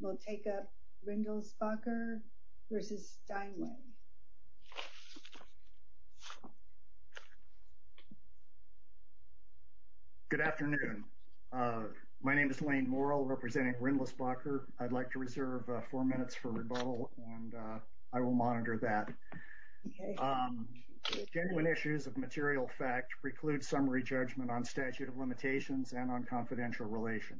We'll take up Rindlisbacher v. Steinway. Good afternoon. My name is Lane Morrell, representing Rindlisbacher. I'd like to reserve four minutes for rebuttal, and I will monitor that. Genuine issues of material fact preclude summary judgment on statute of limitations and on confidential relation.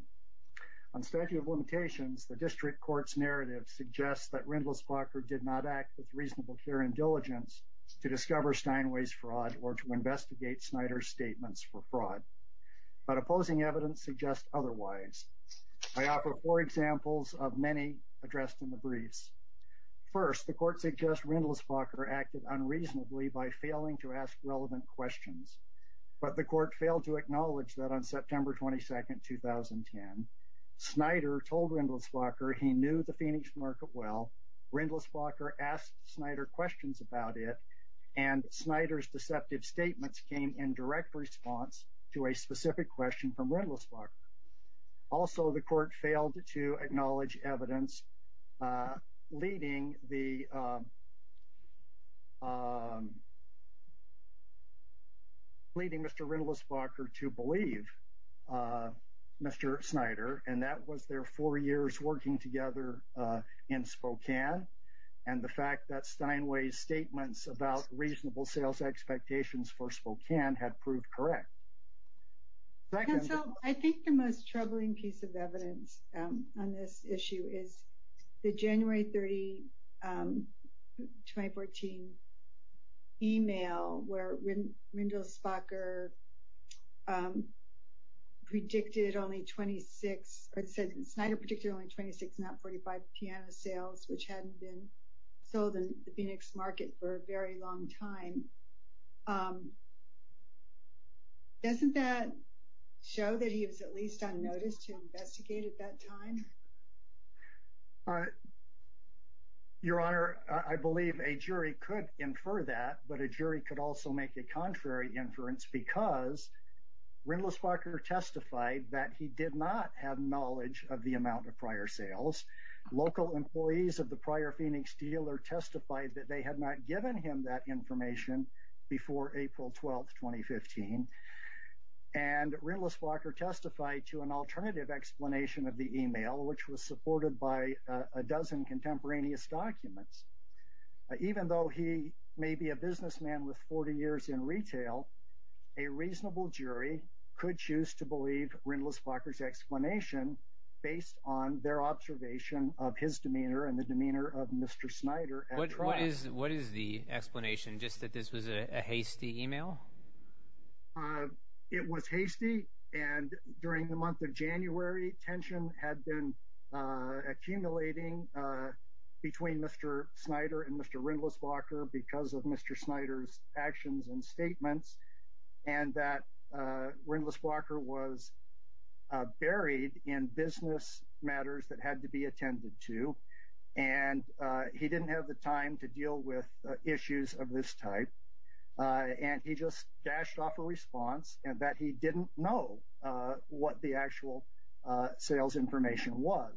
On statute of limitations, the district court's narrative suggests that Rindlisbacher did not act with reasonable care and diligence to discover Steinway's fraud or to investigate Snyder's statements for fraud, but opposing evidence suggests otherwise. I offer four examples of many addressed in the briefs. First, the court suggests Rindlisbacher acted unreasonably by failing to ask relevant questions, but the court failed to acknowledge that on September 22nd, 2010, Snyder told Rindlisbacher he knew the Phoenix market well. Rindlisbacher asked Snyder questions about it, and Snyder's deceptive statements came in direct response to a specific question from Rindlisbacher. Also, the court failed to acknowledge evidence leading Mr. Rindlisbacher to believe Mr. Snyder, and that was their four years working together in Spokane, and the fact that Steinway's statements about reasonable sales expectations for Spokane had proved correct. I think the most troubling piece of evidence on this issue is the January 30, 2014, email where Rindlisbacher predicted only 26, or Snyder predicted only 26, not 45, piano sales, which hadn't been sold in the Phoenix market for a very long time. Doesn't that show that he was at least on notice to investigate at that time? Your Honor, I believe a jury could infer that, but a jury could also make a contrary inference because Rindlisbacher testified that he did not have knowledge of the amount of prior sales. Local employees of the prior Phoenix dealer testified that they had not given him that before April 12, 2015, and Rindlisbacher testified to an alternative explanation of the email, which was supported by a dozen contemporaneous documents. Even though he may be a businessman with 40 years in retail, a reasonable jury could choose to believe Rindlisbacher's explanation based on their observation of his demeanor and the demeanor of Mr. Snyder. What is the explanation, just that this was a hasty email? It was hasty, and during the month of January, tension had been accumulating between Mr. Snyder and Mr. Rindlisbacher because of Mr. Snyder's actions and statements, and that Rindlisbacher was buried in business matters that had to be attended to, and he didn't have the time to deal with issues of this type, and he just dashed off a response and that he didn't know what the actual sales information was.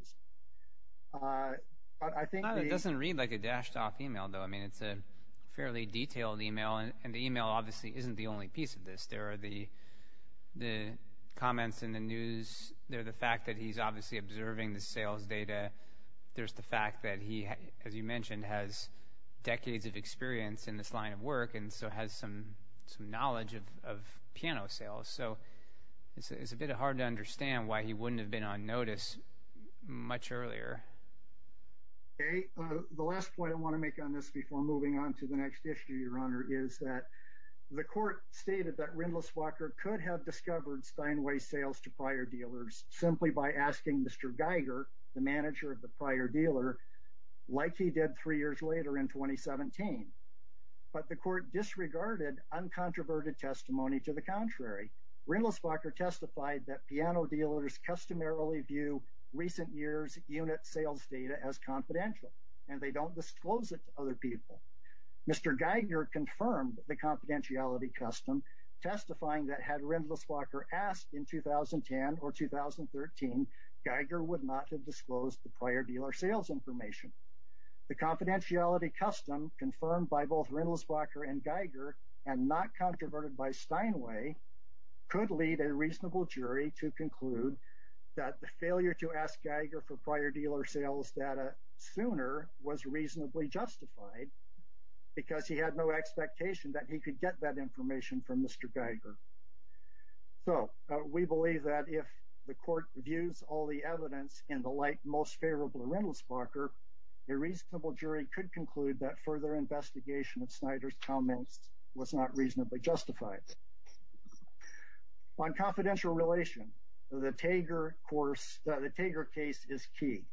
It doesn't read like a dashed off email, though. I mean, it's a fairly detailed email, and the email obviously isn't the only piece of this. There are the comments in the news, the fact that he's obviously observing the sales data, there's the fact that he, as you mentioned, has decades of experience in this line of work and so has some knowledge of piano sales, so it's a bit hard to understand why he wouldn't have been on notice much earlier. The last point I want to make on this before moving on to the next issue, Your Honor, is that the court stated that Rindlisbacher could have discovered Steinway sales to prior dealers simply by asking Mr. Geiger, the manager of the prior dealer, like he did three years later in 2017, but the court disregarded uncontroverted testimony to the contrary. Rindlisbacher testified that piano dealers customarily view recent years unit sales data as confidential and they don't disclose it to other people. Mr. Geiger confirmed the confidentiality custom, testifying that had Rindlisbacher asked in 2010 or 2013, Geiger would not have disclosed the prior dealer sales information. The confidentiality custom confirmed by both Rindlisbacher and Geiger and not controverted by Steinway could lead a reasonable jury to conclude that the failure to ask Geiger for prior dealer sales data sooner was reasonably justified because he had no expectation that he could get that information from Mr. Geiger. So, we believe that if the court reviews all the evidence in the light most favorable Rindlisbacher, a reasonable jury could conclude that further investigation of Snyder's comments was not reasonably justified. On confidential relation, the Tager case is key.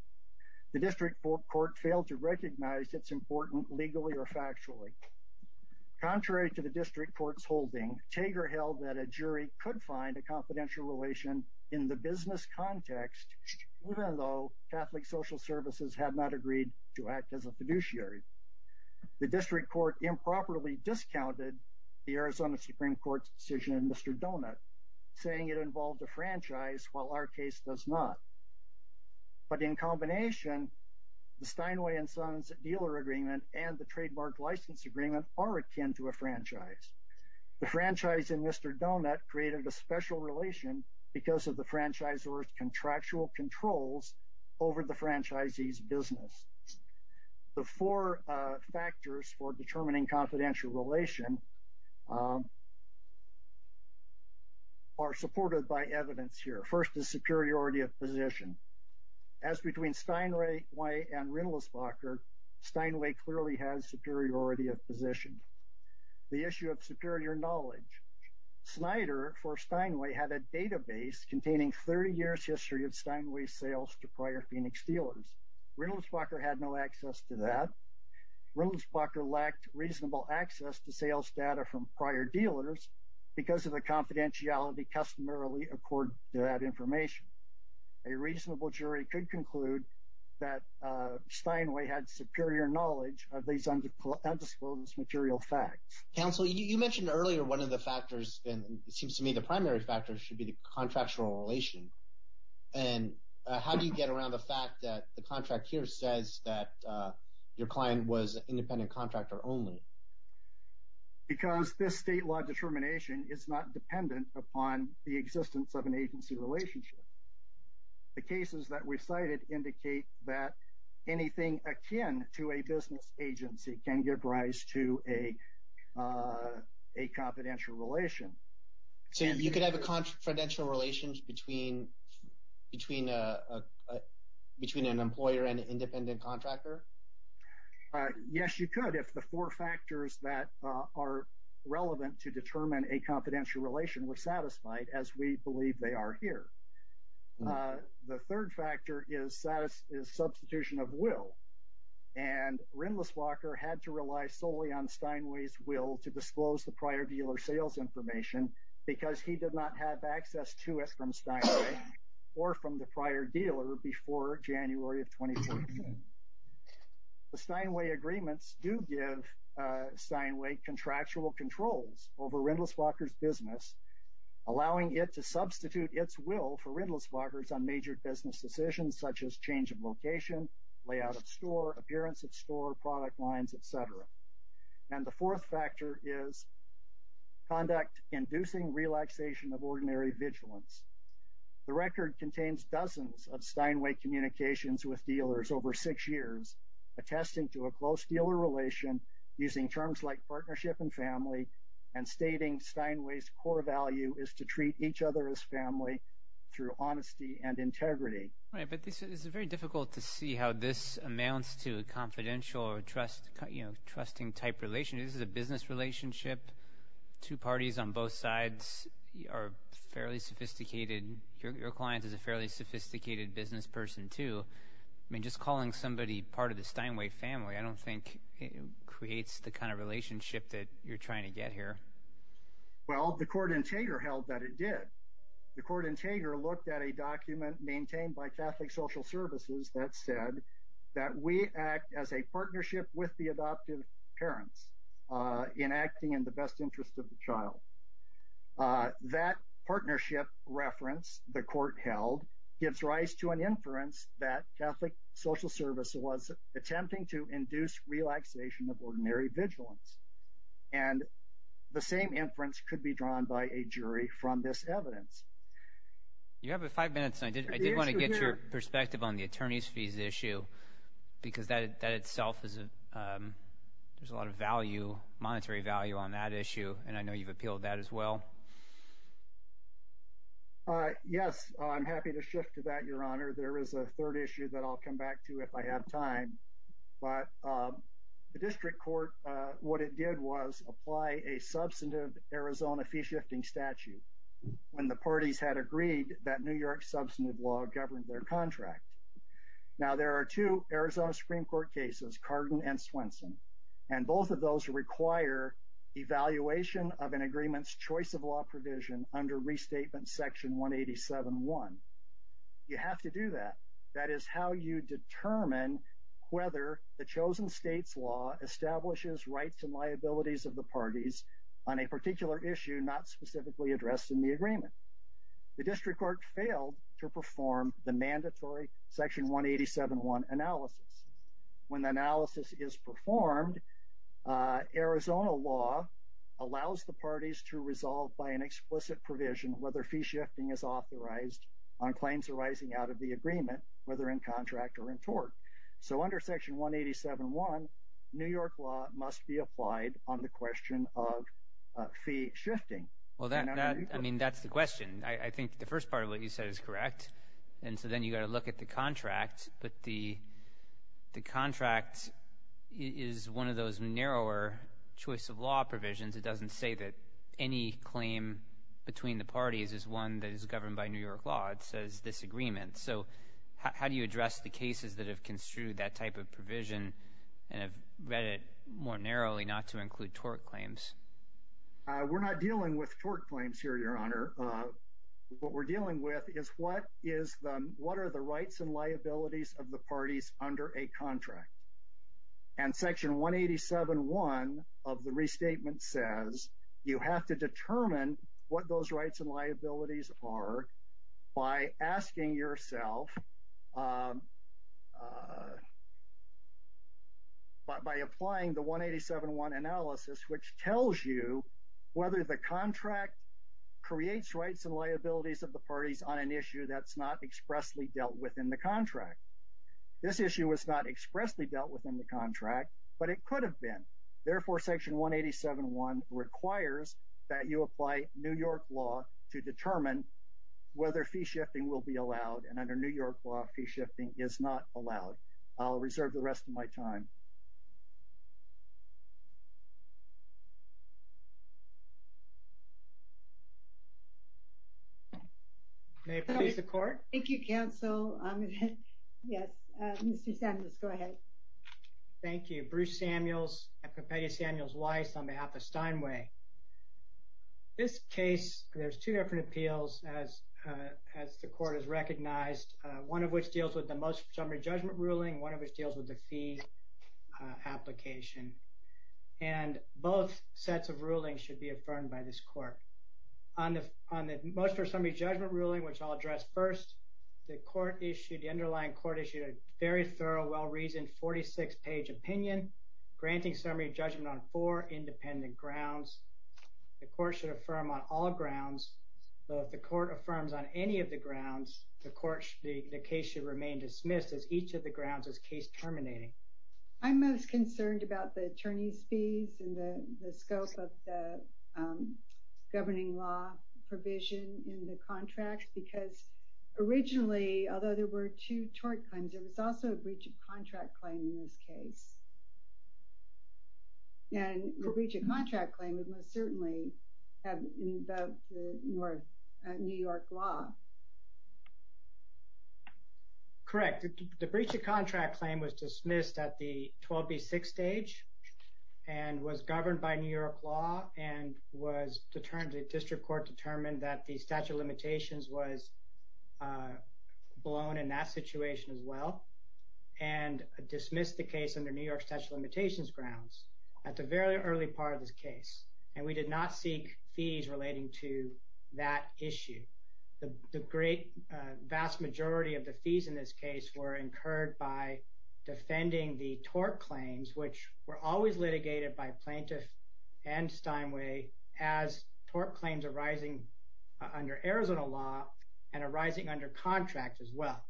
The district court failed to recognize it's important legally or factually. Contrary to the district court's holding, Tager held that a jury could find a confidential relation in the business context, even though Catholic social services had not agreed to act as a fiduciary. The district court improperly discounted the Arizona Supreme Court's decision in Mr. Donut, saying it involved a franchise while our case does not. But in combination, the Steinway and Sons dealer agreement and the trademark license agreement are akin to a franchise. The franchise in Mr. Donut created a special relation because of the franchisor's contractual controls over the franchisee's business. The four factors for determining confidential relation are supported by evidence here. First is superiority of position. As between Steinway and Rindlisbacher, Steinway clearly has superiority of position. The issue of superior knowledge. Snyder for Steinway had a database containing 30 years history of Steinway sales to prior Phoenix dealers. Rindlisbacher had no access to that. Rindlisbacher lacked reasonable access to sales data from prior dealers because of the confidentiality customarily accord to that information. A reasonable jury could conclude that Steinway had superior knowledge of these undisclosed material facts. Counsel, you mentioned earlier one of the factors, and it seems to me the primary factor should be the contractual relation. And how do you get around the fact that the client was an independent contractor only? Because this state law determination is not dependent upon the existence of an agency relationship. The cases that we cited indicate that anything akin to a business agency can give rise to a confidential relation. So you could have a confidential relation between an employer and an independent contractor? Yes, you could if the four factors that are relevant to determine a confidential relation were satisfied as we believe they are here. The third factor is substitution of will. And Rindlisbacher had to rely solely on Steinway's will to disclose the prior dealer sales information because he did not have access to it from Steinway or from the prior dealer before January of 2014. The Steinway agreements do give Steinway contractual controls over Rindlisbacher's business, allowing it to substitute its will for Rindlisbacher's on major business decisions such as change of location, layout of store, appearance of store, product lines, etc. And the fourth factor is conduct inducing relaxation of ordinary vigilance. The record contains dozens of Steinway communications with dealers over six years, attesting to a close dealer relation using terms like partnership and family and stating Steinway's core value is to treat each other as family through honesty and integrity. Right, but this is very difficult to see how this amounts to a confidential or trust, you know, trusting type relationship. This is a business relationship. Two parties on both sides are fairly sophisticated. Your client is a fairly sophisticated business person, too. I mean, just calling somebody part of the Steinway family, I don't think it creates the kind of relationship that you're trying to get here. Well, the court in Tager held that it did. The court in Tager looked at a document maintained by Catholic Social Services that said that we act as a partnership with the adoptive parents in acting in the best interest of the child. That partnership reference, the court held, gives rise to an inference that Catholic Social Service was attempting to induce relaxation of ordinary vigilance. And the same inference could be drawn by a jury from this evidence. You have five minutes. I did want to get your perspective on the attorney's fees issue because that itself, there's a lot of value, monetary value on that issue, and I know you've appealed that as well. Yes, I'm happy to shift to that, Your Honor. There is a third issue that I'll come back to if I have time. But the district court, what it did was apply a substantive Arizona fee-shifting statute when the parties had agreed that New York's substantive law governed their contract. Now, there are two Arizona Supreme Court cases, Cardin and Swenson, and both of those require evaluation of an agreement's choice of law provision under Restatement Section 187.1. You have to do that. That is how you determine whether the chosen state's law establishes rights and liabilities of the parties on a particular issue not specifically addressed in the agreement. The district court failed to perform the mandatory Section 187.1 analysis. When the analysis is performed, Arizona law allows the parties to resolve by an explicit provision whether fee-shifting is authorized on claims arising out of the agreement, whether in contract or in tort. So under Section 187.1, New York law must be applied on the question of fee-shifting. Well, I mean, that's the question. I think the first part of what you said is correct. And so then you got to look at the contract. But the contract is one of those narrower choice of law provisions. It doesn't say that any claim between the parties is one that is governed by New York law. It says this agreement. So how do you address the cases that have ensued that type of provision and have read it more narrowly not to include tort claims? We're not dealing with tort claims here, Your Honor. What we're dealing with is what is the what are the rights and liabilities of the parties under a contract. And Section 187.1 of the restatement says you have to determine what those rights and liabilities are by asking yourself by applying the 187.1 analysis, which tells you whether the contract creates rights and liabilities of the parties on an issue that's not expressly dealt with in the contract. This issue was not expressly dealt with in the contract, but it could have been. Therefore, Section 187.1 requires that you apply New York law to determine whether fee-shifting will be allowed. And under New York law, fee-shifting is not allowed. I'll reserve the rest of my time. May it please the Court? Thank you, Counsel. Yes, Mr. Samuels, go ahead. Thank you. Bruce Samuels and Papadia Samuels Weiss on behalf of Steinway. This case, there's two different appeals as the Court has recognized, one of which deals with the most summary judgment ruling, one of which deals with the fee application. And both sets of rulings should be affirmed by this Court. On the most or summary judgment ruling, which I'll address first, the underlying Court issued a very thorough, well-reasoned 46-page opinion granting summary judgment on four independent grounds. The Court should affirm on all grounds, but if the Court affirms on any of the grounds, the case should remain dismissed as each of the grounds is case terminating. I'm most concerned about the attorney's fees and the scope of the governing law provision in the contracts, because originally, although there were two contract claims in this case, and the breach of contract claim would most certainly have invoked the New York law. Correct. The breach of contract claim was dismissed at the 12B6 stage and was governed by New York law and was determined, the District Court determined that the statute of limitations was blown in that situation as well and dismissed the case under New York statute of limitations grounds at the very early part of this case. And we did not seek fees relating to that issue. The great, vast majority of the fees in this case were incurred by defending the tort claims, which were always litigated by plaintiff and Steinway as tort claims arising under Arizona law and arising under contract as well.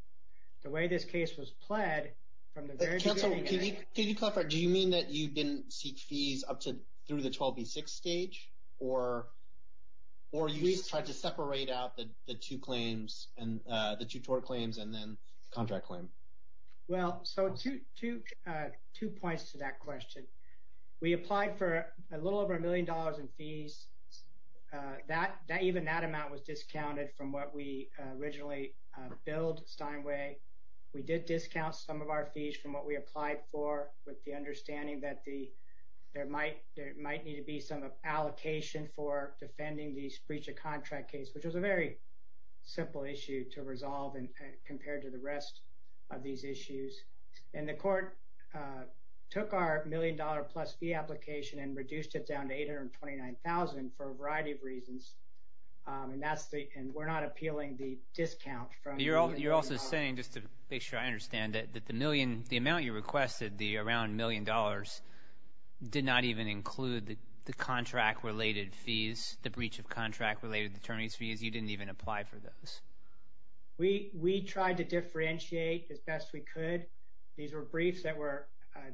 The way this case was pled from the very beginning. Counselor, can you clarify, do you mean that you didn't seek fees up to through the 12B6 stage or you just tried to separate out the two claims and the two tort claims and then contract claim? Well, so two points to that question. We applied for a little over a million dollars in fees. Even that amount was discounted from what we originally billed Steinway. We did discount some of our fees from what we applied for with the understanding that there might need to be some allocation for defending these breach of contract case, which was a very simple issue to resolve compared to the rest of these issues. And the court took our million dollar plus fee application and reduced it down to $829,000 for a variety of reasons. And we're not appealing the discount. You're also saying just to make sure I understand that the million, the amount you requested, the around million dollars did not even include the contract related fees, the breach of contract related attorneys fees. You didn't even apply for those. We tried to differentiate as best we could. These were briefs that were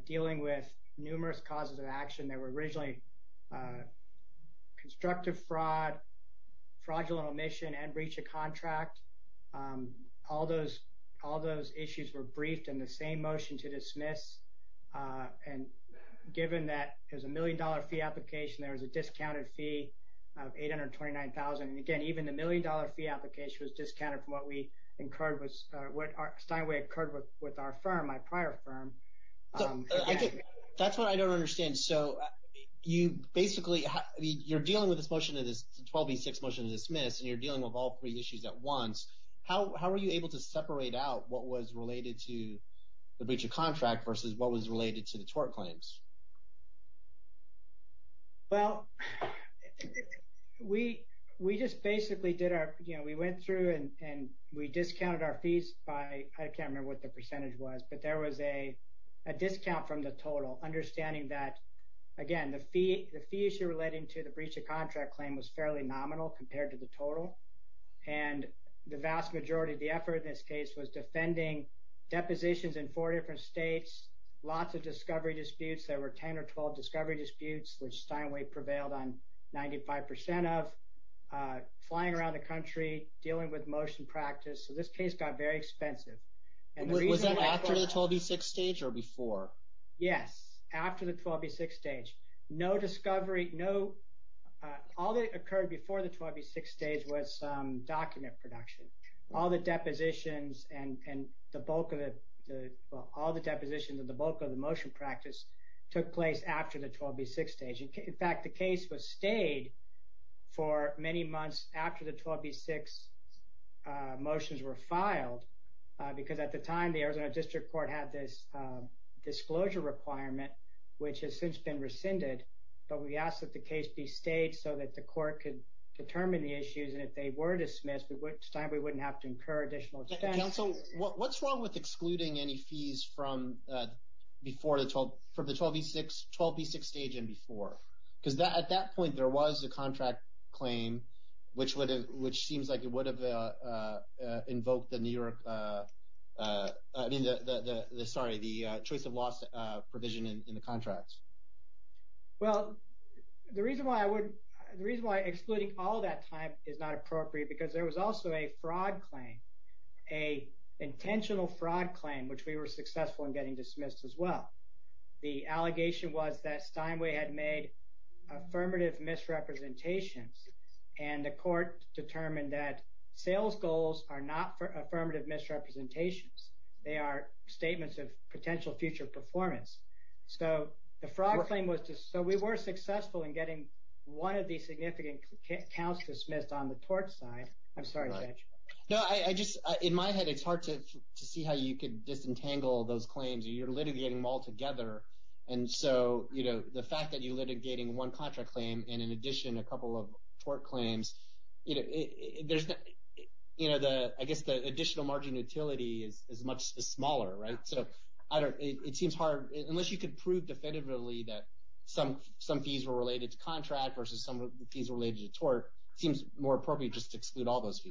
dealing with numerous causes of action that were originally constructive fraud, fraudulent omission and breach of contract. All those issues were briefed in the same motion to dismiss. And given that there's a million dollar fee application, there was a discounted fee of $829,000. And again, even the million dollar fee application was discounted from what we incurred, what Steinway incurred with our firm, my prior firm. So, that's what I don't understand. So, you basically, you're dealing with this motion, this 12B6 motion to dismiss, and you're dealing with all three issues at once. How were you able to separate out what was related to the breach of contract versus what was related to the tort claims? Well, we just basically did our, you know, we went through and we discounted our fees by, I can't remember what the percentage was, but there was a discount from the total, understanding that, again, the fee issue relating to the breach of contract claim was fairly nominal compared to the total. And the vast majority of the effort in this case was defending depositions in four different states, lots of discovery disputes, lots of fraudulent 10 or 12 discovery disputes, which Steinway prevailed on 95% of, flying around the country, dealing with motion practice. So, this case got very expensive. Was that after the 12B6 stage or before? Yes, after the 12B6 stage. No discovery, no, all that occurred before the 12B6 stage was document production. All the depositions and the bulk of the, well, all the depositions and the took place after the 12B6 stage. In fact, the case was stayed for many months after the 12B6 motions were filed, because at the time, the Arizona District Court had this disclosure requirement, which has since been rescinded. But we asked that the case be stayed so that the court could determine the issues. And if they were dismissed, at which time we wouldn't have to incur additional expense. Counsel, what's wrong with excluding any fees from the 12B6 stage and before? Because at that point, there was a contract claim, which seems like it would have invoked the choice of loss provision in the contracts. Well, the reason why excluding all that time is not appropriate, because there was also a fraud claim, which we were successful in getting dismissed as well. The allegation was that Steinway had made affirmative misrepresentations, and the court determined that sales goals are not affirmative misrepresentations. They are statements of potential future performance. So the fraud claim was just, so we were successful in getting one of these significant counts dismissed on the tort side. I'm sorry, Judge. No, I just, in my head, it's hard to see how you could disentangle those claims. You're litigating them all together. And so the fact that you're litigating one contract claim and in addition a couple of tort claims, I guess the additional margin utility is much smaller, right? So it seems hard, unless you could prove definitively that some fees were related to contract versus some of the fees related to tort, it seems more appropriate just to exclude all these.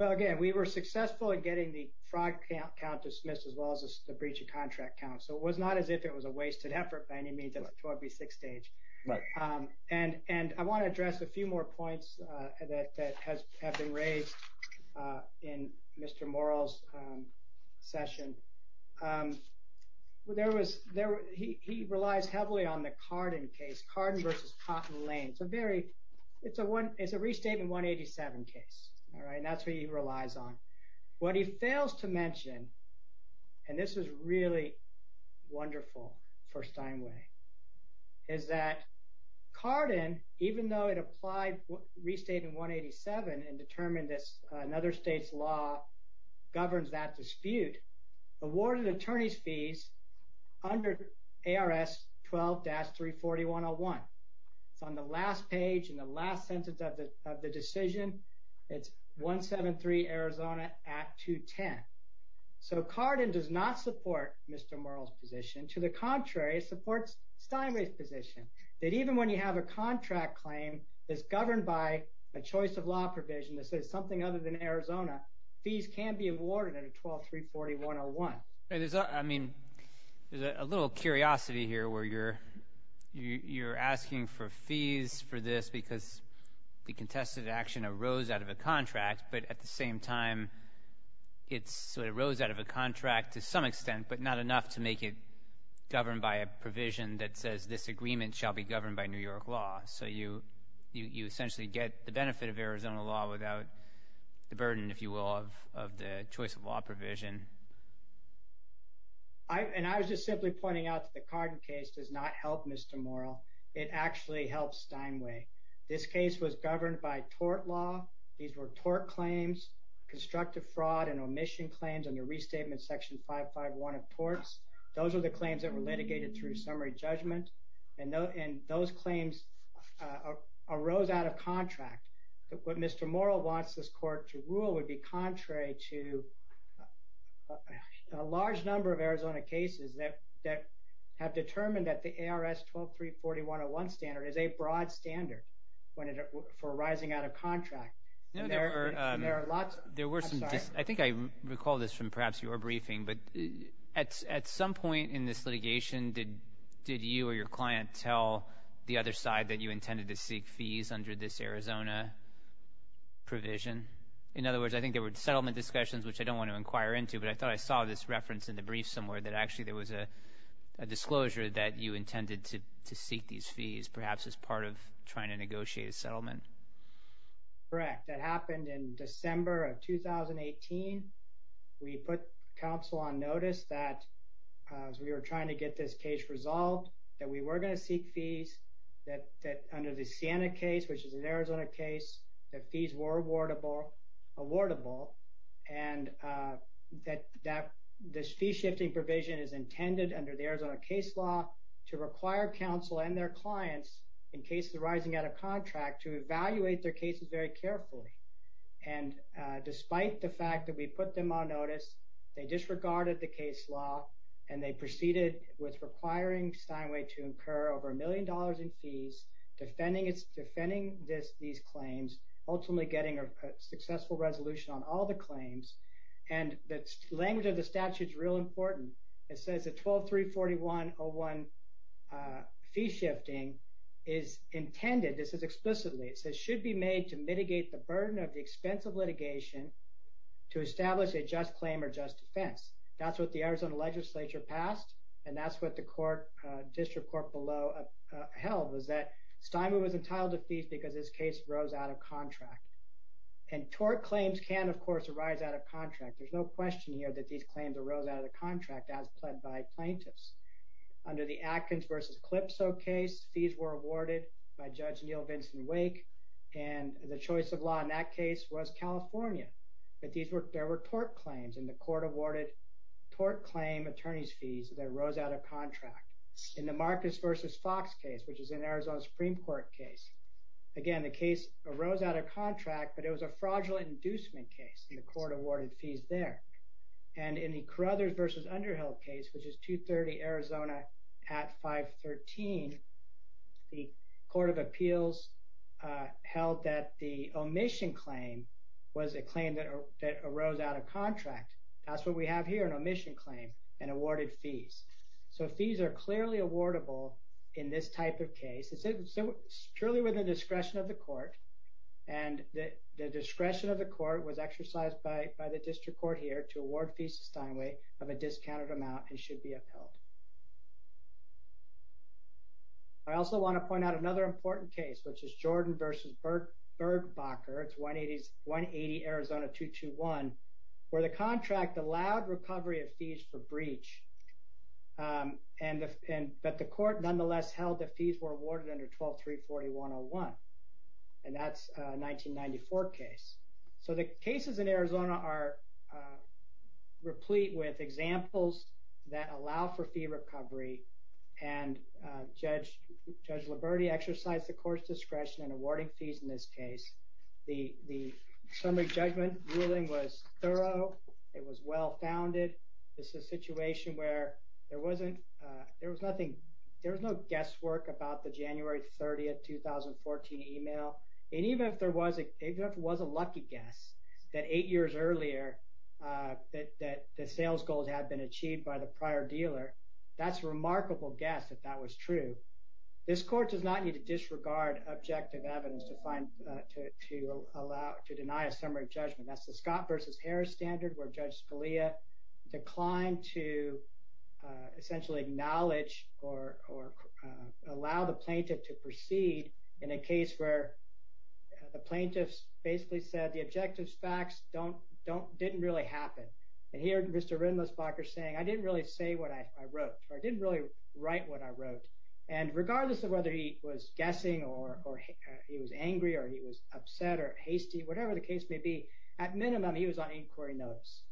Well, again, we were successful in getting the fraud count dismissed as well as the breach of contract count. So it was not as if it was a wasted effort by any means at the tort v. six stage. And I want to address a few more points that have been raised in Mr. Morrell's session. There was, he relies heavily on the Carden case, Carden versus Cotton Lane. It's a very, it's a one, it's a restatement 187 case, all right? And that's what he relies on. What he fails to mention, and this is really wonderful for Steinway, is that Carden, even though it applied restatement 187 and determined this, another state's law governs that dispute, awarded attorney's fees under ARS 12-34101. It's on the last page in the last sentence of the decision. It's 173 Arizona at 210. So Carden does not support Mr. Morrell's position. To the contrary, it supports Steinway's position that even when you have a contract claim that's governed by a choice of law provision that says something other than Arizona, fees can be awarded under 12-34101. There's a, I mean, there's a little curiosity here where you're asking for fees for this because the contested action arose out of a contract, but at the same time, it sort of arose out of a contract to some extent, but not enough to make it governed by a provision that says this agreement shall be governed by New York law. So you essentially get the benefit of Arizona law without the burden, if you will, of the choice of law provision. And I was just simply pointing out that the Carden case does not help Mr. Morrell. It actually helps Steinway. This case was governed by tort law. These were tort claims, constructive fraud, and omission claims under Restatement Section 551 of torts. Those are the claims that were litigated through summary judgment, and those claims arose out of contract. What Mr. Morrell wants this court to rule would be contrary to a large number of Arizona cases that have determined that the ARS 12-34101 standard is a broad standard for arising out of contract. There are lots, I'm sorry. I think I recall this from perhaps your briefing, but at some point in this litigation, did you or your client tell the other side that you intended to seek fees under this Arizona provision? In other words, I think there were settlement discussions, which I don't want to inquire into, but I thought I saw this reference in the brief somewhere that actually there was a disclosure that you intended to seek these fees, perhaps as part of trying to negotiate a settlement. Correct. That happened in December of 2018. We put counsel on notice that as we were trying to get this case resolved, that we were going to seek fees, that under the Sienna case, which is an Arizona case, that fees were awardable, and that this fee-shifting provision is intended under the Arizona case law to require counsel and their clients in cases arising out of contract to evaluate their cases very carefully. And despite the fact that we put them on notice, they disregarded the case law, and they proceeded with requiring Steinway to incur over a million dollars in fees, defending these claims, ultimately getting a successful resolution on all the claims. And the language of the statute is real important. It says that 12-341-01 fee-shifting is intended, this is explicitly, it says should be made to mitigate the burden of the expense of litigation to establish a just claim or just defense. That's what the Arizona legislature passed, and that's what the court, district court below, held, was that Steinway was entitled to fees because his case rose out of contract. And tort claims can, of course, arise out of contract. There's no question here that these claims arose out of the contract as pled by plaintiffs. Under the Atkins v. Calypso case, fees were awarded by Judge Neil Vincent Wake, and the choice of law in that case was California. But these were, there were tort claims, and the court awarded tort claim attorney's fees that arose out of contract. In the Marcus v. Fox case, which is an Arizona Supreme Court case, again, the case arose out of contract, but it was a fraudulent inducement case, and the court awarded fees there. And in the Carothers v. Underhill case, which is 230 Arizona at 513, the Court of Appeals held that the omission claim was a claim that arose out of contract. That's what we have here, an omission claim and awarded fees. So fees are clearly awardable in this type of case. Surely with the discretion of the court, and the discretion of the court was exercised by the district court here to award fees to Steinway of a discounted amount and should be upheld. I also want to point out another important case, which is Jordan v. Bergbacher, it's 180 Arizona 221, where the contract allowed recovery of fees for breach, but the court nonetheless held the under 12-340-101. And that's a 1994 case. So the cases in Arizona are replete with examples that allow for fee recovery. And Judge Liberti exercised the court's discretion in awarding fees in this case. The summary judgment ruling was thorough. It was well-founded. This is a situation where there was no guesswork about the January 30, 2014 email. And even if there was a lucky guess that eight years earlier that the sales goals had been achieved by the prior dealer, that's a remarkable guess if that was true. This court does not need to disregard objective evidence to deny a summary judgment. That's the Scott v. Harris standard where Judge Scalia declined to essentially acknowledge or allow the plaintiff to proceed in a case where the plaintiffs basically said the objective facts didn't really happen. And here Mr. Rindlisbacher saying, I didn't really say what I wrote, or I didn't really write what I wrote. And regardless of whether he was guessing or he was angry or he was upset or hasty, whatever the case may be, at minimum he was on inquiry notice.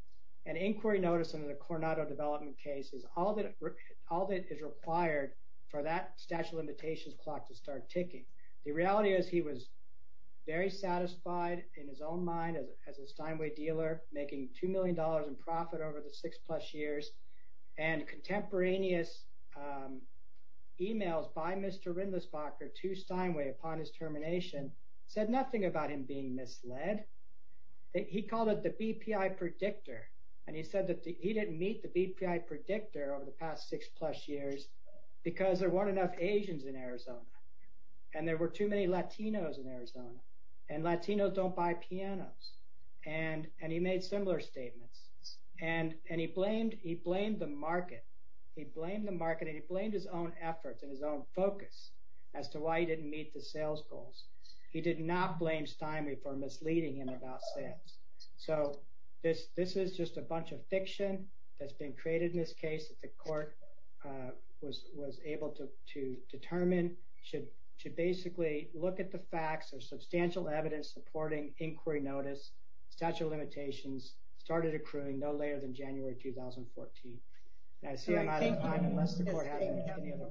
And inquiry notice in the Coronado development case is all that is required for that statute of limitations clock to start ticking. The reality is he was very satisfied in his own mind as a Steinway dealer, making $2 million in profit over the six plus years. And contemporaneous emails by Mr. Rindlisbacher to Steinway upon his termination said nothing about him being misled. He called it the BPI predictor. And he said that he didn't meet the BPI predictor over the past six plus years because there weren't enough Asians in Arizona. And there were too many Latinos in Arizona. And Latinos don't buy pianos. And he made similar statements. And he blamed the market. He blamed the market. And he blamed his own efforts and his own focus as to why he didn't meet the sales goals. He did not blame Steinway for misleading him about sales. So this is just a bunch of fiction that's been created in this case that the court was able to determine should basically look at the facts. There's substantial evidence supporting inquiry notice, statute of misdemeanor.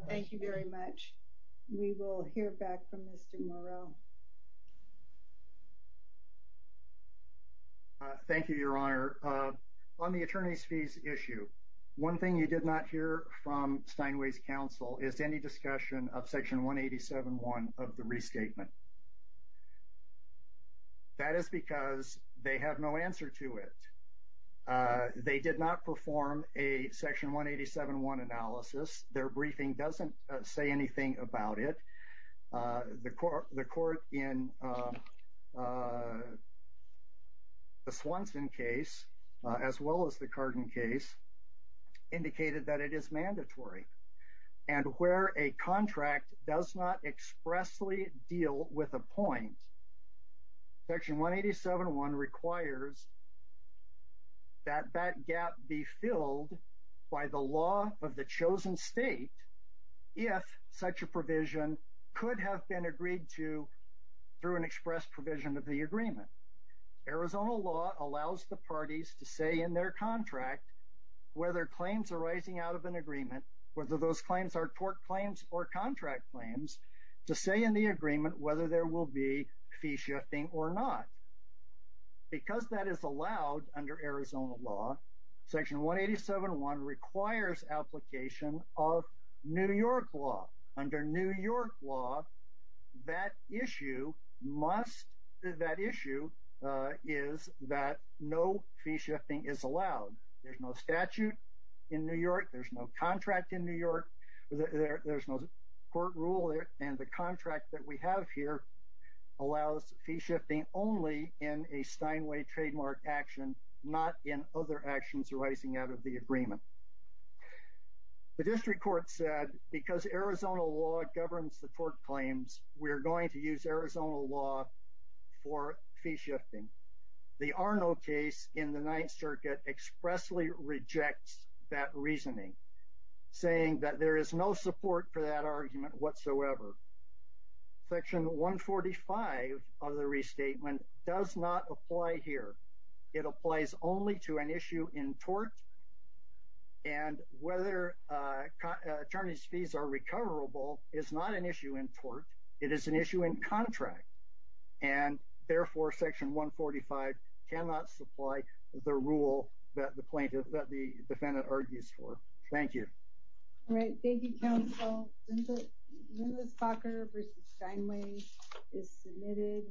Thank you very much. We will hear back from Mr. Moreau. Thank you, Your Honor. On the attorney's fees issue, one thing you did not hear from Steinway's counsel is any discussion of Section 187.1 of the restatement. That is because they have no answer to it. They did not perform a Section 187.1 analysis. Their briefing doesn't say anything about it. The court in the Swanson case, as well as the Cardin case, indicated that it is mandatory. And where a contract does not expressly deal with a point, Section 187.1 requires that that gap be filled by the law of the chosen state if such a provision could have been agreed to through an express provision of the agreement. Arizona law allows the parties to say in their contract whether claims arising out of an agreement, whether those claims are tort claims or contract claims, to say in the agreement whether there will be fee shifting or not. Because that is allowed under Arizona law, Section 187.1 requires application of New York law. Under New York law, that issue must, that issue is that no fee shifting is allowed. There's no statute in New York. There's no rule there. And the contract that we have here allows fee shifting only in a Steinway trademark action, not in other actions arising out of the agreement. The district court said because Arizona law governs the tort claims, we're going to use Arizona law for fee shifting. The Arno case in the Ninth Circuit expressly rejects that reasoning, saying that there is no support for that argument whatsoever. Section 145 of the restatement does not apply here. It applies only to an issue in tort. And whether attorney's fees are recoverable is not an issue in tort. It is an issue in contract. And therefore, Section 145 cannot supply the rule that the plaintiff, that the defendant argues for. Thank you. All right. Thank you, counsel. Linda Spocker v. Steinway is submitted.